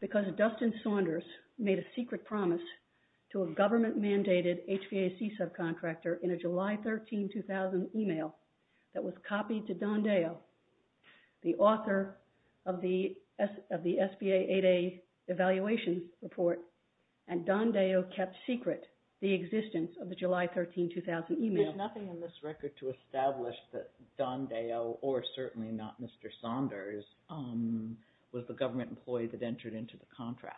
Because Dustin Saunders made a secret promise to a government-mandated HVAC subcontractor in a July 13, 2000 email that was copied to Don Deyo, the author of the SBA 8A Evaluation Report, and Don Deyo kept secret the existence of the July 13, 2000 email. There's nothing in this record to establish that Don Deyo, or certainly not Mr. Saunders, was the government employee that entered into the contract.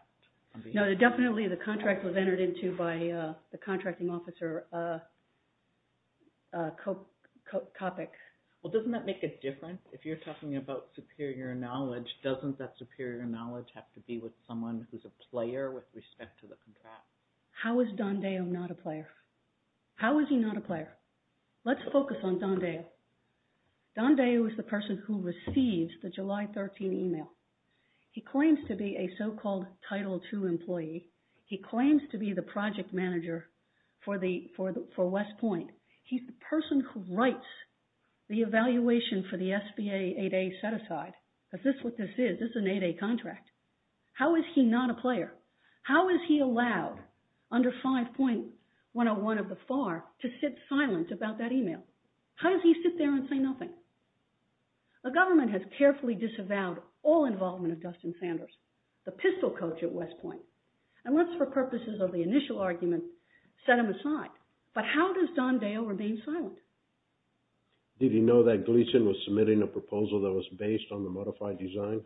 No, definitely the contract was entered into by the contracting officer, Copic. Well, doesn't that make a difference? If you're talking about superior knowledge, doesn't that superior knowledge have to be with someone who's a player with respect to the contract? How is Don Deyo not a player? How is he not a player? Let's focus on Don Deyo. Don Deyo is the person who receives the July 13 email. He claims to be a so-called Title II employee. He claims to be the project manager for West Point. He's the person who writes the evaluation for the SBA 8A set-aside, because this is what this is. This is an 8A contract. How is he not a player? How is he allowed, under 5.101 of the FAR, to sit silent about that The government has carefully disavowed all involvement of Dustin Sanders, the pistol coach at West Point. And let's, for purposes of the initial argument, set him aside. But how does Don Deyo remain silent? Did he know that Gleason was submitting a proposal that was based on the modified design?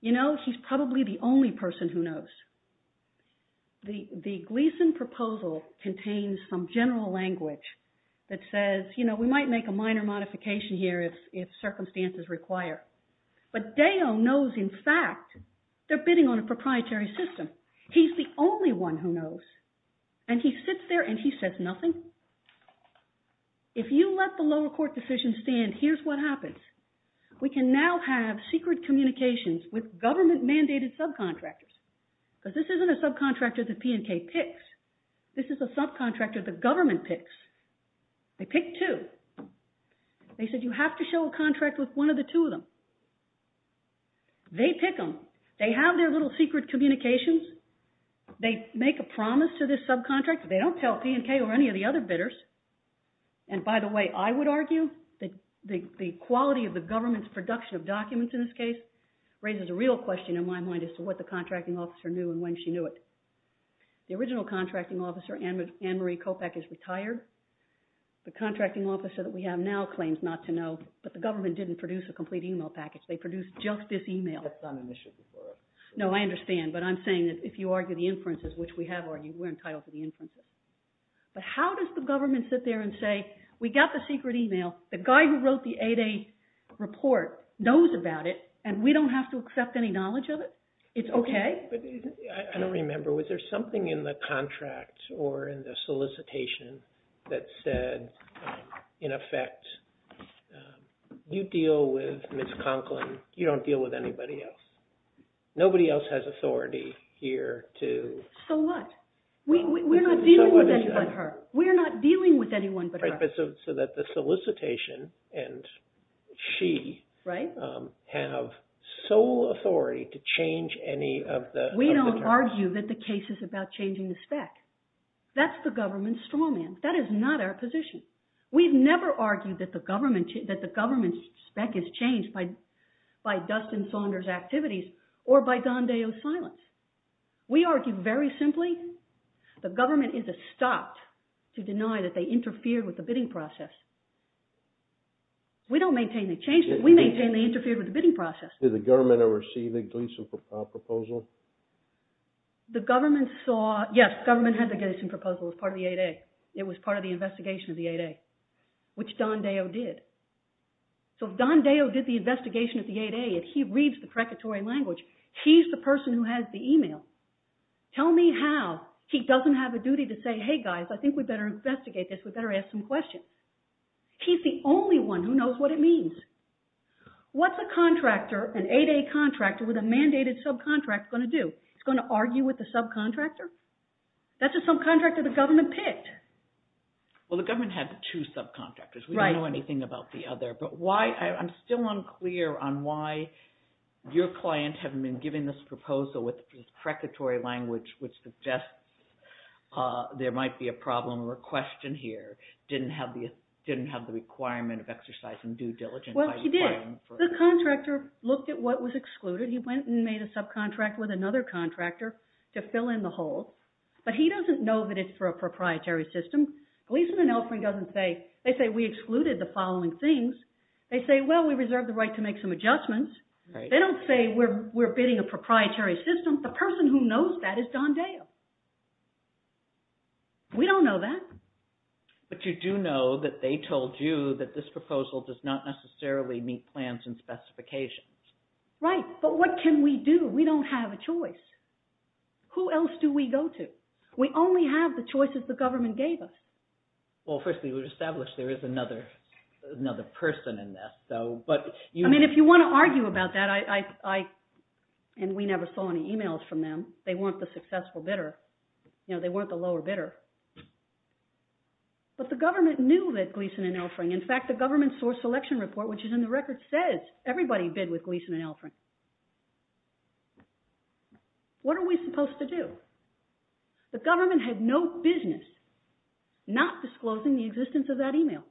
You know, he's probably the only person who knows. The Gleason proposal contains some general language that says, you know, we might make a minor modification here if circumstances require. But Deyo knows, in fact, they're bidding on a proprietary system. He's the only one who knows. And he sits there and he says nothing? If you let the lower court decision stand, here's what happens. We can now have secret communications with government-mandated subcontractors. Because this isn't a subcontractor that P&K picks. This is a subcontractor the government picks. They pick two. They said you have to show a contract with one of the two of them. They pick them. They have their little secret communications. They make a promise to this subcontractor. They don't tell P&K or any of the other bidders. And by the way, I would argue that the quality of the government's production of documents in this case raises a real question in my mind as to what the original contracting officer, Ann Marie Kopeck, is retired. The contracting officer that we have now claims not to know. But the government didn't produce a complete email package. They produced just this email. That's not an issue for us. No, I understand. But I'm saying that if you argue the inferences, which we have argued, we're entitled to the inferences. But how does the government sit there and say, we got the secret email. The guy who wrote the 8A report knows about it. And we don't have to accept any knowledge of it? It's OK? I don't remember. Was there something in the contract or in the solicitation that said, in effect, you deal with Ms. Conklin. You don't deal with anybody else. Nobody else has authority here to... So what? We're not dealing with anyone but her. We're not dealing with anyone but her. So that the solicitation and she have sole authority to change any of the terms. We don't argue that the case is about changing the spec. That's the government's straw man. That is not our position. We've never argued that the government's spec is changed by Dustin Saunders' activities or by Don Deo's silence. We argue very simply, the government is stopped to deny that they interfered with the bidding process. We don't maintain they changed it. We maintain they interfered with the bidding process. Did the government ever see the Gleason proposal? The government saw... Yes, the government had the Gleason proposal as part of the 8A. It was part of the investigation of the 8A, which Don Deo did. So if Don Deo did the investigation of the 8A, if he reads the precatory language, he's the person who has the email. Tell me how he doesn't have a duty to say, hey guys, I think we'd better investigate this. We'd better ask some questions. He's the only one who knows what it means. What's a contractor, an 8A contractor with a mandated subcontractor going to do? He's going to argue with the subcontractor? That's a subcontractor the government picked. Well, the government had two subcontractors. We don't know anything about the other, but why... I'm still unclear on why your client haven't been given this proposal with this suggests there might be a problem or a question here. Didn't have the requirement of exercising due diligence. Well, he did. The contractor looked at what was excluded. He went and made a subcontract with another contractor to fill in the hole, but he doesn't know that it's for a proprietary system. Gleason and Elfring doesn't say... They say we excluded the following things. They say, well, we reserved the right to make some adjustments. They don't say we're bidding a proprietary system. The person who knows that is Dondeo. We don't know that. But you do know that they told you that this proposal does not necessarily meet plans and specifications. Right, but what can we do? We don't have a choice. Who else do we go to? We only have the choices the government gave us. Well, first, we would establish there is another person in this, though, but you... I mean, if you want to argue about that, I... And we never saw any emails from them. They weren't the successful bidder. They weren't the lower bidder. But the government knew that Gleason and Elfring... In fact, the government source selection report, which is in the record, says everybody bid with Gleason and Elfring. What are we supposed to do? The government had no business not disclosing the existence of that email.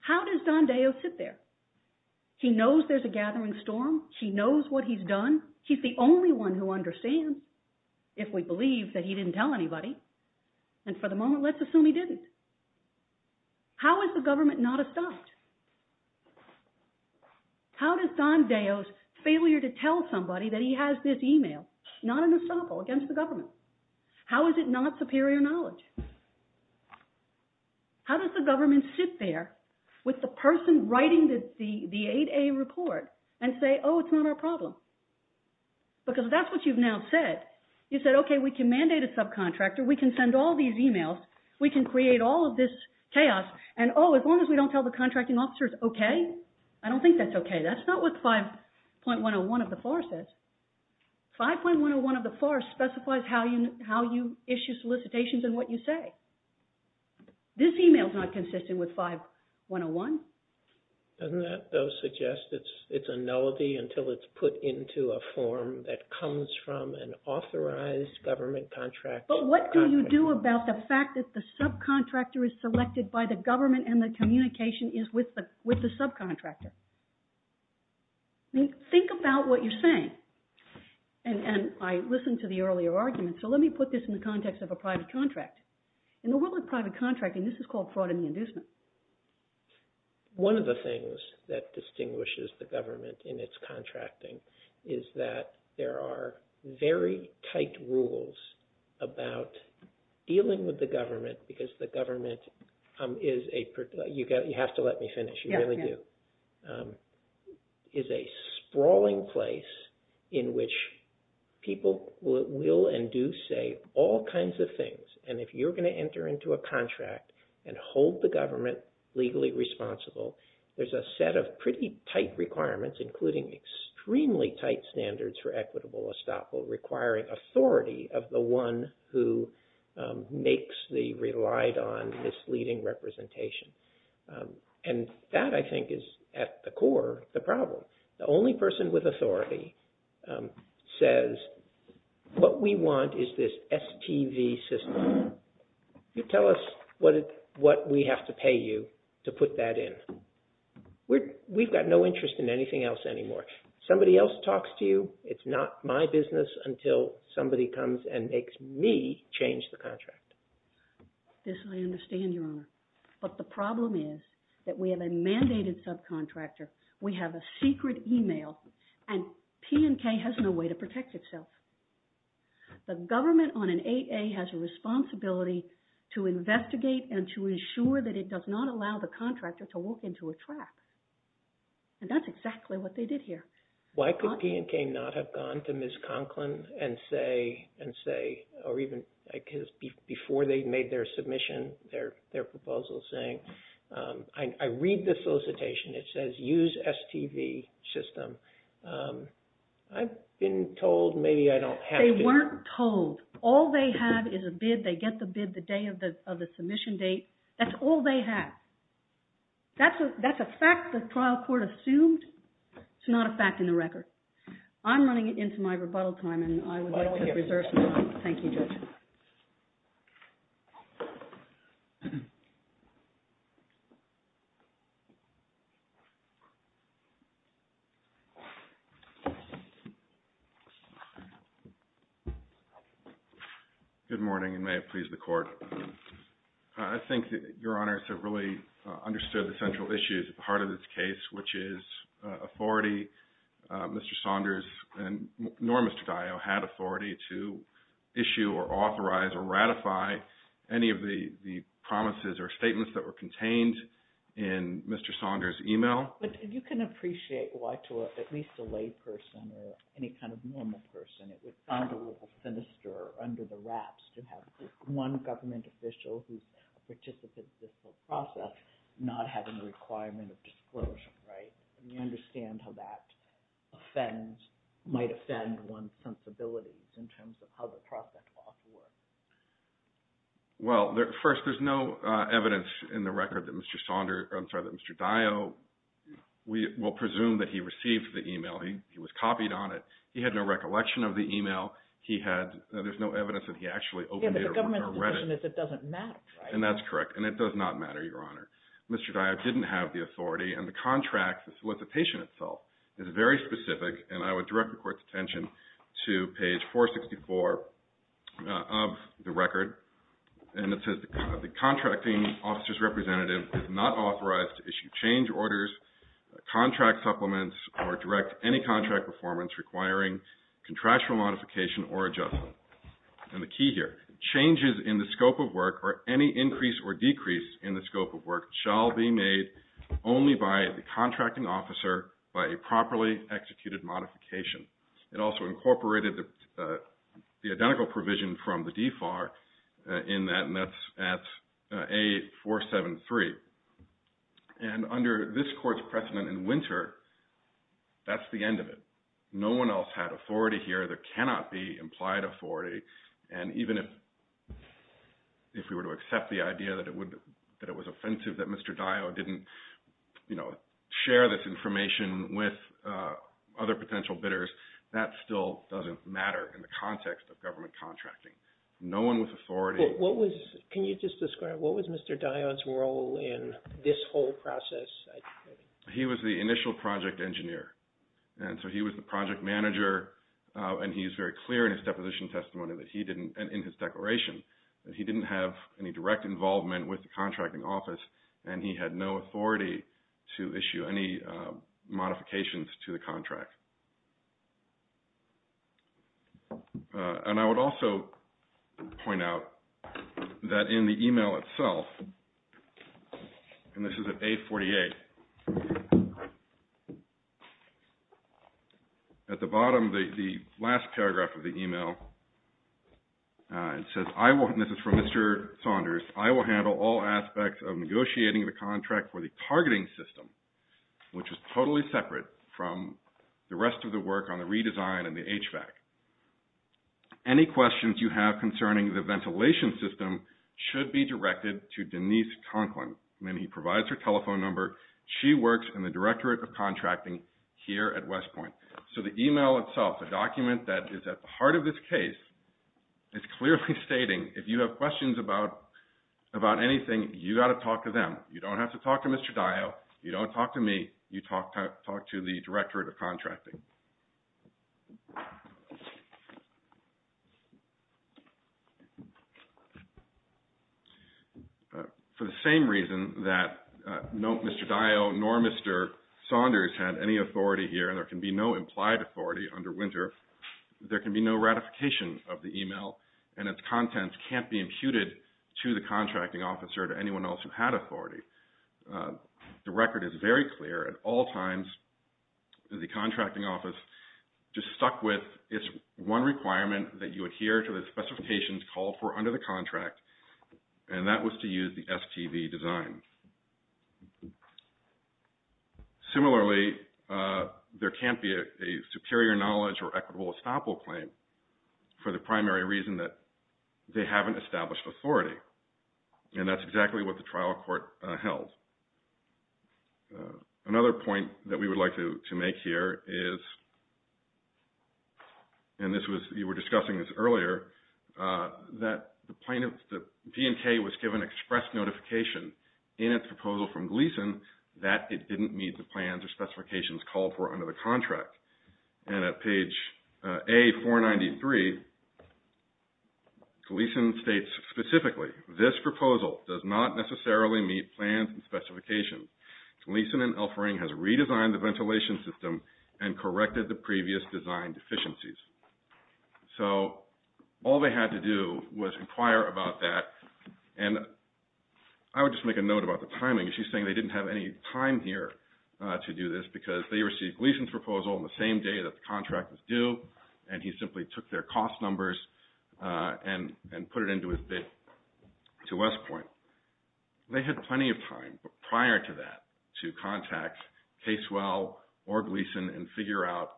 How does Dondeo sit there? He knows there's a gathering storm. He knows what he's done. He's the only one who understands, if we believe that he didn't tell anybody. And for the moment, let's assume he didn't. How is the government not stopped? How does Dondeo's failure to tell somebody that he has this email not an estoppel against the government? How does the government sit there with the person writing the 8A report and say, oh, it's not our problem? Because that's what you've now said. You said, okay, we can mandate a subcontractor. We can send all these emails. We can create all of this chaos. And, oh, as long as we don't tell the contracting officers, okay. I don't think that's okay. That's not what 5.101 of the FAR says. 5.101 of the FAR specifies how you issue solicitations and what you say. This email is not consistent with 5.101. Doesn't that, though, suggest it's a nullity until it's put into a form that comes from an authorized government contractor? But what do you do about the fact that the subcontractor is selected by the government and the communication is with the subcontractor? Think about what you're saying. And I listened to the earlier argument, so let me put this in the context of a private contract. In the world of private contracting, this is called fraud and inducement. One of the things that distinguishes the government in its contracting is that there are very tight rules about dealing with the government because the government is a, you have to let me finish, you really do, is a sprawling place in which people will engage with each other so it will and do say all kinds of things. And if you're going to enter into a contract and hold the government legally responsible, there's a set of pretty tight requirements, including extremely tight standards for equitable estoppel requiring authority of the one who makes the relied on misleading representation. And that, I think, is at the core of the problem. The only person with authority says, what we want is this STV system. You tell us what we have to pay you to put that in. We've got no interest in anything else anymore. Somebody else talks to you, it's not my business until somebody comes and makes me change the contract. This I understand, Your Honor, but the problem is that we have a mandated subcontractor. We have a secret e-mail and P&K has no way to protect itself. The government on an 8A has a responsibility to investigate and to ensure that it does not allow the contractor to walk into a trap. And that's exactly what they did here. Why could P&K not have gone to Ms. Conklin and say, or even before they made their submission, their proposal saying, I read the solicitation, it says use STV system. I've been told maybe I don't have to. They weren't told. All they have is a bid. They get the bid the day of the submission date. That's all they have. That's a fact the trial court assumed. It's not a fact in the record. I'm running into my rebuttal time and I would like to reserve some time. Thank you. Good morning and may it please the Court. I think that Your Honors have really understood the central issues at the heart of this case, which is authority. Mr. Saunders and Norm and the promise or statements that were contained in Mr. Saunders' email. You can appreciate why to at least a lay person or any kind of normal person it would sound a little sinister under the wraps to have one government official who's a participant in the whole process not have a requirement of disclosure, right? You understand how that might offend one's sensibilities in terms of how the process often works. Well, first, there's no evidence in the record that Mr. Saunders, I'm sorry, that Mr. Dayo, we will presume that he received the email. He was copied on it. He had no recollection of the email. He had, there's no evidence that he actually opened it or read it. Yeah, but the government's position is it doesn't matter, right? And that's correct and it does not matter, Your Honor. Mr. Dayo didn't have the authority and the contract, the solicitation itself, is very specific and I would direct the Court's report of the record and it says the contracting officer's representative is not authorized to issue change orders, contract supplements, or direct any contract performance requiring contractual modification or adjustment. And the key here, changes in the scope of work or any increase or decrease in the scope of work shall be made only by the contracting officer by a properly executed modification. It also incorporated the identical provision from the DFAR in that and that's at A473. And under this Court's precedent in winter, that's the end of it. No one else had authority here. There cannot be implied authority and even if we were to accept the idea that it was offensive that Mr. Dayo didn't, you know, share this information with other potential bidders, that still doesn't matter in the context of government contracting. No one with authority. What was, can you just describe, what was Mr. Dayo's role in this whole process? He was the initial project engineer and so he was the project manager and he's very clear in his deposition testimony that he didn't, and in his declaration, that he didn't have any direct involvement with the contracting office and he had no authority to issue any modifications to the contract. And I would also point out that in the e-mail itself, and this is at A48, at the bottom, the last paragraph of the e-mail, it says, I will, and this is from Mr. Saunders, I will handle all aspects of negotiating the contract for the targeting system, which is totally separate from the rest of the work on the redesign and the HVAC. Any questions you have concerning the ventilation system should be directed to Denise Conklin. And he provides her telephone number. She works in the Directorate of Contracting here at West Point. So the e-mail itself, a document that is at the heart of this case, is clearly stating if you have questions about anything, you've got to talk to them. You don't have to talk to Mr. Dio. You don't talk to me. You talk to the Directorate of Contracting. For the same reason that no Mr. Dio nor Mr. Saunders had any authority here, and there can be no implied authority under winter, there can be no ratification of the e-mail and its contents can't be imputed to the contracting officer or to anyone else who had authority. The record is very clear. At all times, the contracting office just stuck with its one requirement that you adhere to the specifications called for under the contract, and that was to use the STV design. Similarly, there can't be a superior knowledge or equitable estoppel claim for the primary reason that they haven't established authority, and that's exactly what the trial court held. Another point that we would like to make here is, and you were discussing this earlier, that the P&K was given express notification in its proposal from Gleason that it didn't meet the plans or specifications called for under the contract, and at page A493, Gleason states specifically, this proposal does not necessarily meet plans and specifications. Gleason and Elfering has redesigned the ventilation system and corrected the previous design deficiencies. So all they had to do was inquire about that, and I would just make a note about the timing. She's saying they didn't have any time here to do this because they received Gleason's proposal on the same day that the contract was due, and he simply took their cost numbers and put it into his bid to West Point. They had plenty of time prior to that to contact Casewell or Gleason and figure out,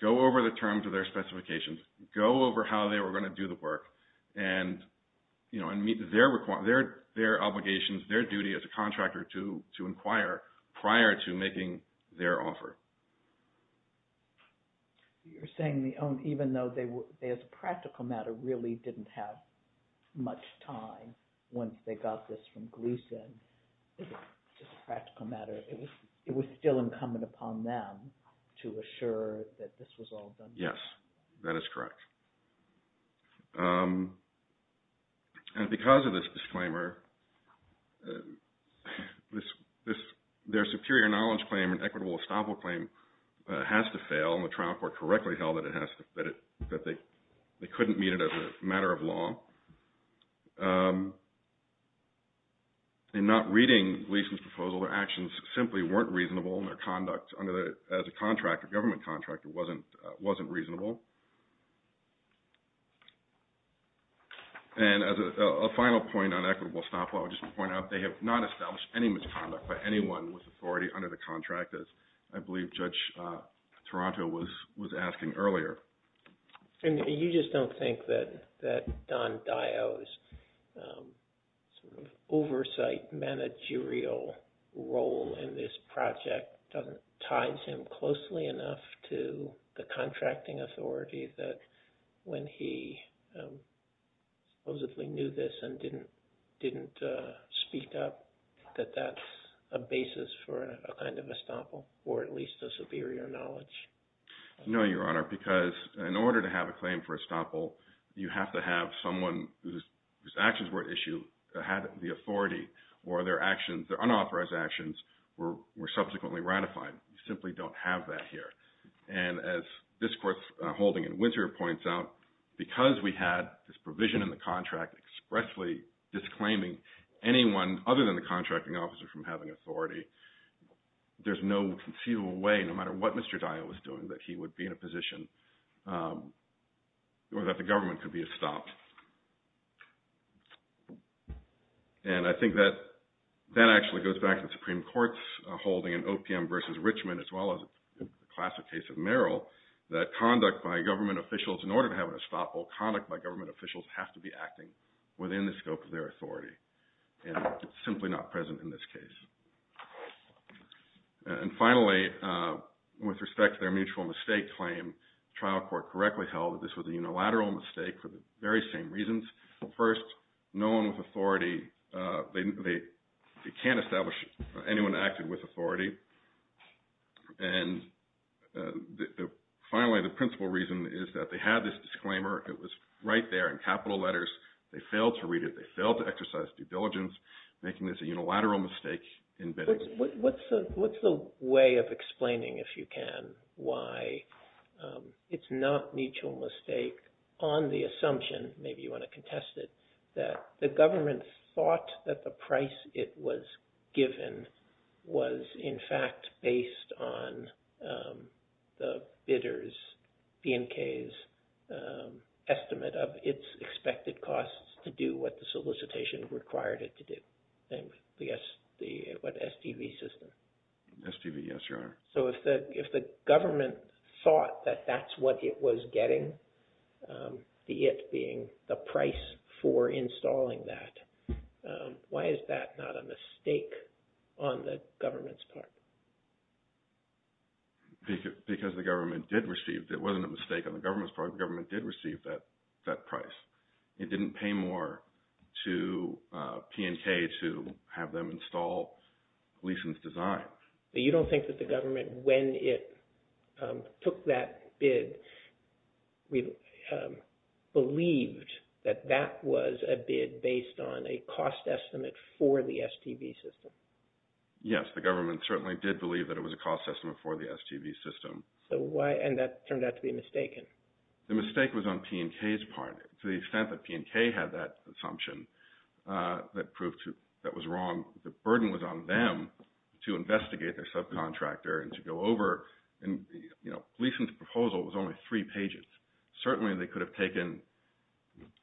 go over the terms of their specifications, go over how they were going to do the work, and meet their obligations, their duty as a contractor to inquire prior to making their offer. You're saying even though they, as a practical matter, really didn't have much time once they got this from Gleason, just a practical matter, it was still incumbent upon them to assure that this was all done. Yes, that is correct. And because of this disclaimer, their superior knowledge claim and equitable estoppel claim has to fail, and the trial court correctly held that they couldn't meet it as a matter of law. In not reading Gleason's proposal, their actions simply weren't reasonable, and their conduct as a contractor, government contractor, wasn't reasonable. And as a final point on equitable estoppel, I would just point out they have not established any misconduct by anyone with authority under the contract, as I believe Judge Toronto was asking earlier. And you just don't think that Don Dio's oversight managerial role in this project ties him closely enough to the contracting authority that when he supposedly knew this and didn't speak up, that that's a basis for a kind of estoppel, or at least a superior knowledge? No, Your Honor, because in order to have a claim for estoppel, you have to have someone whose actions were at issue, had the authority, or their actions, their unauthorized actions were subsequently ratified. You simply don't have that here. And as this court's holding in Winter points out, because we had this provision in the contract expressly disclaiming anyone other than the contracting officer from having authority, there's no conceivable way, no matter what Mr. Dio was doing, that he would be in a position where the government could be estopped. And I think that that actually goes back to the Supreme Court's holding in OPM v. Richmond, as well as the classic case of Merrill, that conduct by government officials, in order to have an estoppel, conduct by government officials have to be acting within the scope of their authority, and it's simply not present in this case. And finally, with respect to their mutual mistake claim, the trial court correctly held that this was a unilateral mistake for the very same reasons. First, no one with authority, they can't establish anyone acted with authority. And finally, the principal reason is that they had this disclaimer. It was right there in capital letters. They failed to read it. They failed to exercise due diligence, making this a unilateral mistake in bidding. What's the way of explaining, if you can, why it's not mutual mistake on the assumption, maybe you want to contest it, that the government thought that the price it was given was, in fact, based on the bidder's, the NK's, estimate of its expected costs to do what the solicitation required it to do, the STV system? STV, yes, Your Honor. So if the government thought that that's what it was getting, the it being the price for installing that, why is that not a mistake on the government's part? Because the government did receive, it wasn't a mistake on the government's part, the government did receive that price. It didn't pay more to PNK to have them install leasons design. You don't think that the government, when it took that bid, believed that that was a bid based on a cost estimate for the STV system? Yes, the government certainly did believe that it was a cost estimate for the STV system. And that turned out to be mistaken? The mistake was on PNK's part. To the extent that PNK had that assumption that proved that was wrong, the burden was on them to investigate their subcontractor and to go over. And, you know, Gleason's proposal was only three pages. Certainly they could have taken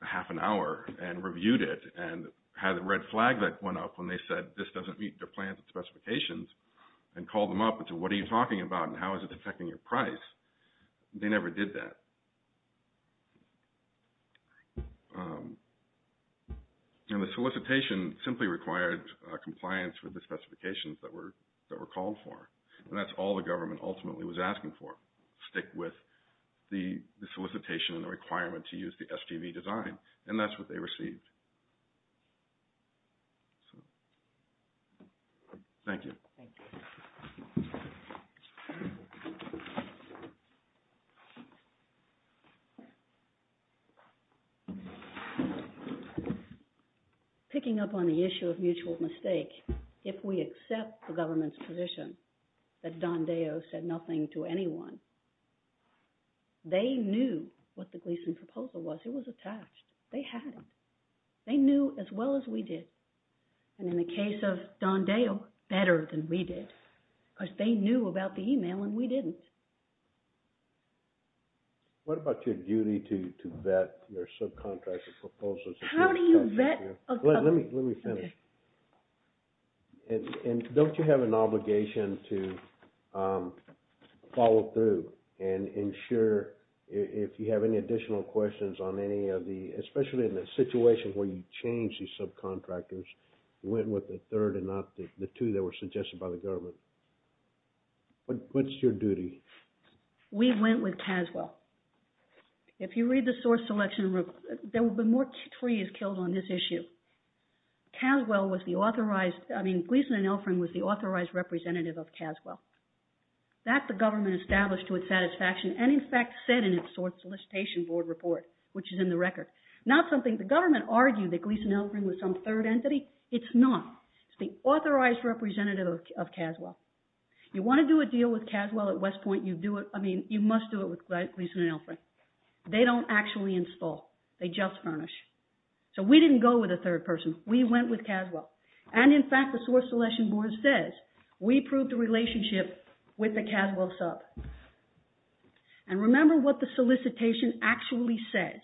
half an hour and reviewed it and had a red flag that went up when they said, this doesn't meet their plans and specifications, and called them up and said, what are you talking about and how is it affecting your price? They never did that. And the solicitation simply required compliance with the specifications that were called for. And that's all the government ultimately was asking for, stick with the solicitation and the requirement to use the STV design. And that's what they received. Thank you. Thank you. Picking up on the issue of mutual mistake, if we accept the government's position that Don Deo said nothing to anyone, they knew what the Gleason proposal was. It was attached. They had it. They knew as well as we did. And in the case of Don Deo, better than we did. Because they knew about the email and we didn't. What about your duty to vet your subcontractor proposals? How do you vet? Let me finish. And don't you have an obligation to follow through and ensure if you have any additional questions on any of the, especially in a situation where you change these subcontractors, you went with the third and not the two that were suggested by the government? What's your duty? We went with Caswell. If you read the source selection report, there will be more trees killed on this issue. Caswell was the authorized, I mean, Gleason and Elfring was the authorized representative of Caswell. That the government established to its satisfaction and in fact said in its source solicitation board report, which is in the record. Not something the government argued that Gleason and Elfring was some third entity. It's not. It's the authorized representative of Caswell. You want to do a deal with Caswell at West Point, you do it, I mean, you must do it with Gleason and Elfring. They don't actually install. They just furnish. So we didn't go with a third person. We went with Caswell. And in fact, the source selection board says, we proved the relationship with the Caswell sub. And remember what the solicitation actually says.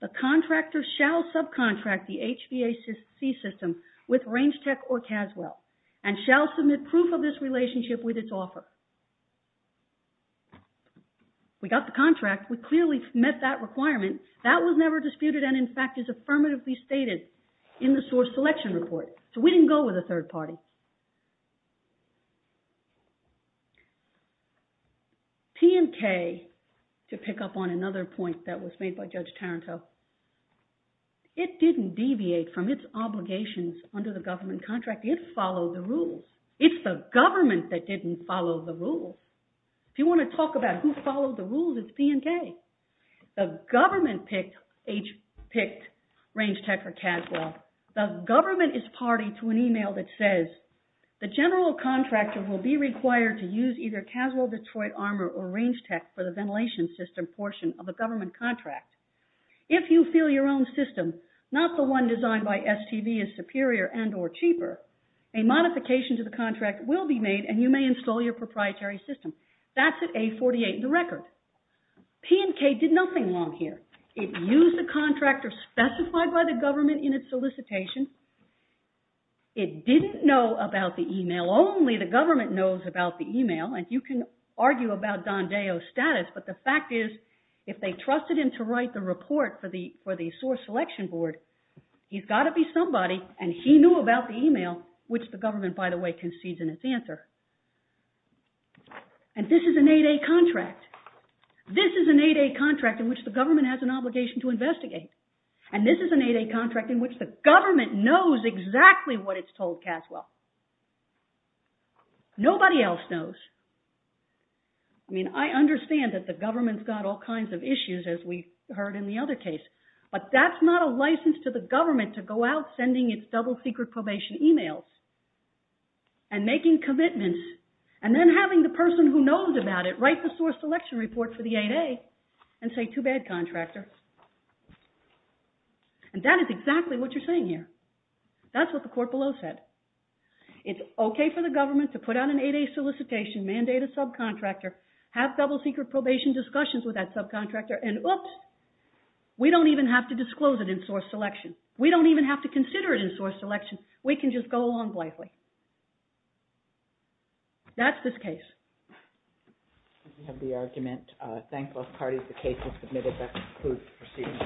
The contractor shall subcontract the HVAC system with Range Tech or Caswell and shall submit proof of this relationship with its offer. We got the contract. We clearly met that requirement. That was never disputed and in fact is affirmatively stated in the source selection report. So we didn't go with a third party. P&K, to pick up on another point that was made by Judge Taranto, it didn't deviate from its obligations under the government contract. It followed the rules. It's the government that didn't follow the rules. If you want to talk about who followed the rules, it's P&K. The government picked Range Tech or Caswell. The government is party to an email that says, the general contractor will be required to use either Caswell Detroit Armor or Range Tech for the ventilation system portion of the government contract. If you feel your own system, not the one designed by STV, is superior and or cheaper, a modification to the contract will be made and you may install your proprietary system. That's at A48 in the record. P&K did nothing wrong here. It used the contractor specified by the government in its solicitation. It didn't know about the email. Only the government knows about the email. You can argue about Don Deo's status, but the fact is, if they trusted him to write the report for the source selection board, he's got to be somebody and he knew about the email, which the government, by the way, concedes in its answer. This is an 8A contract. This is an 8A contract in which the government has an obligation to investigate. And this is an 8A contract in which the government knows exactly what it's told Caswell. Nobody else knows. I mean, I understand that the government's got all kinds of issues, as we heard in the other case, but that's not a license to the government to go out sending its double secret probation emails and making commitments and then having the person who knows about it write the source selection report for the 8A and say, too bad, contractor. And that is exactly what you're saying here. That's what the court below said. It's okay for the government to put out an 8A solicitation, mandate a subcontractor, have double secret probation discussions with that subcontractor, and oops, we don't even have to disclose it in source selection. We don't even have to consider it in source selection. We can just go along blithely. That's this case. We have the argument. Thank both parties. The case is submitted. That concludes the proceedings. Thank you, Judge. All rise.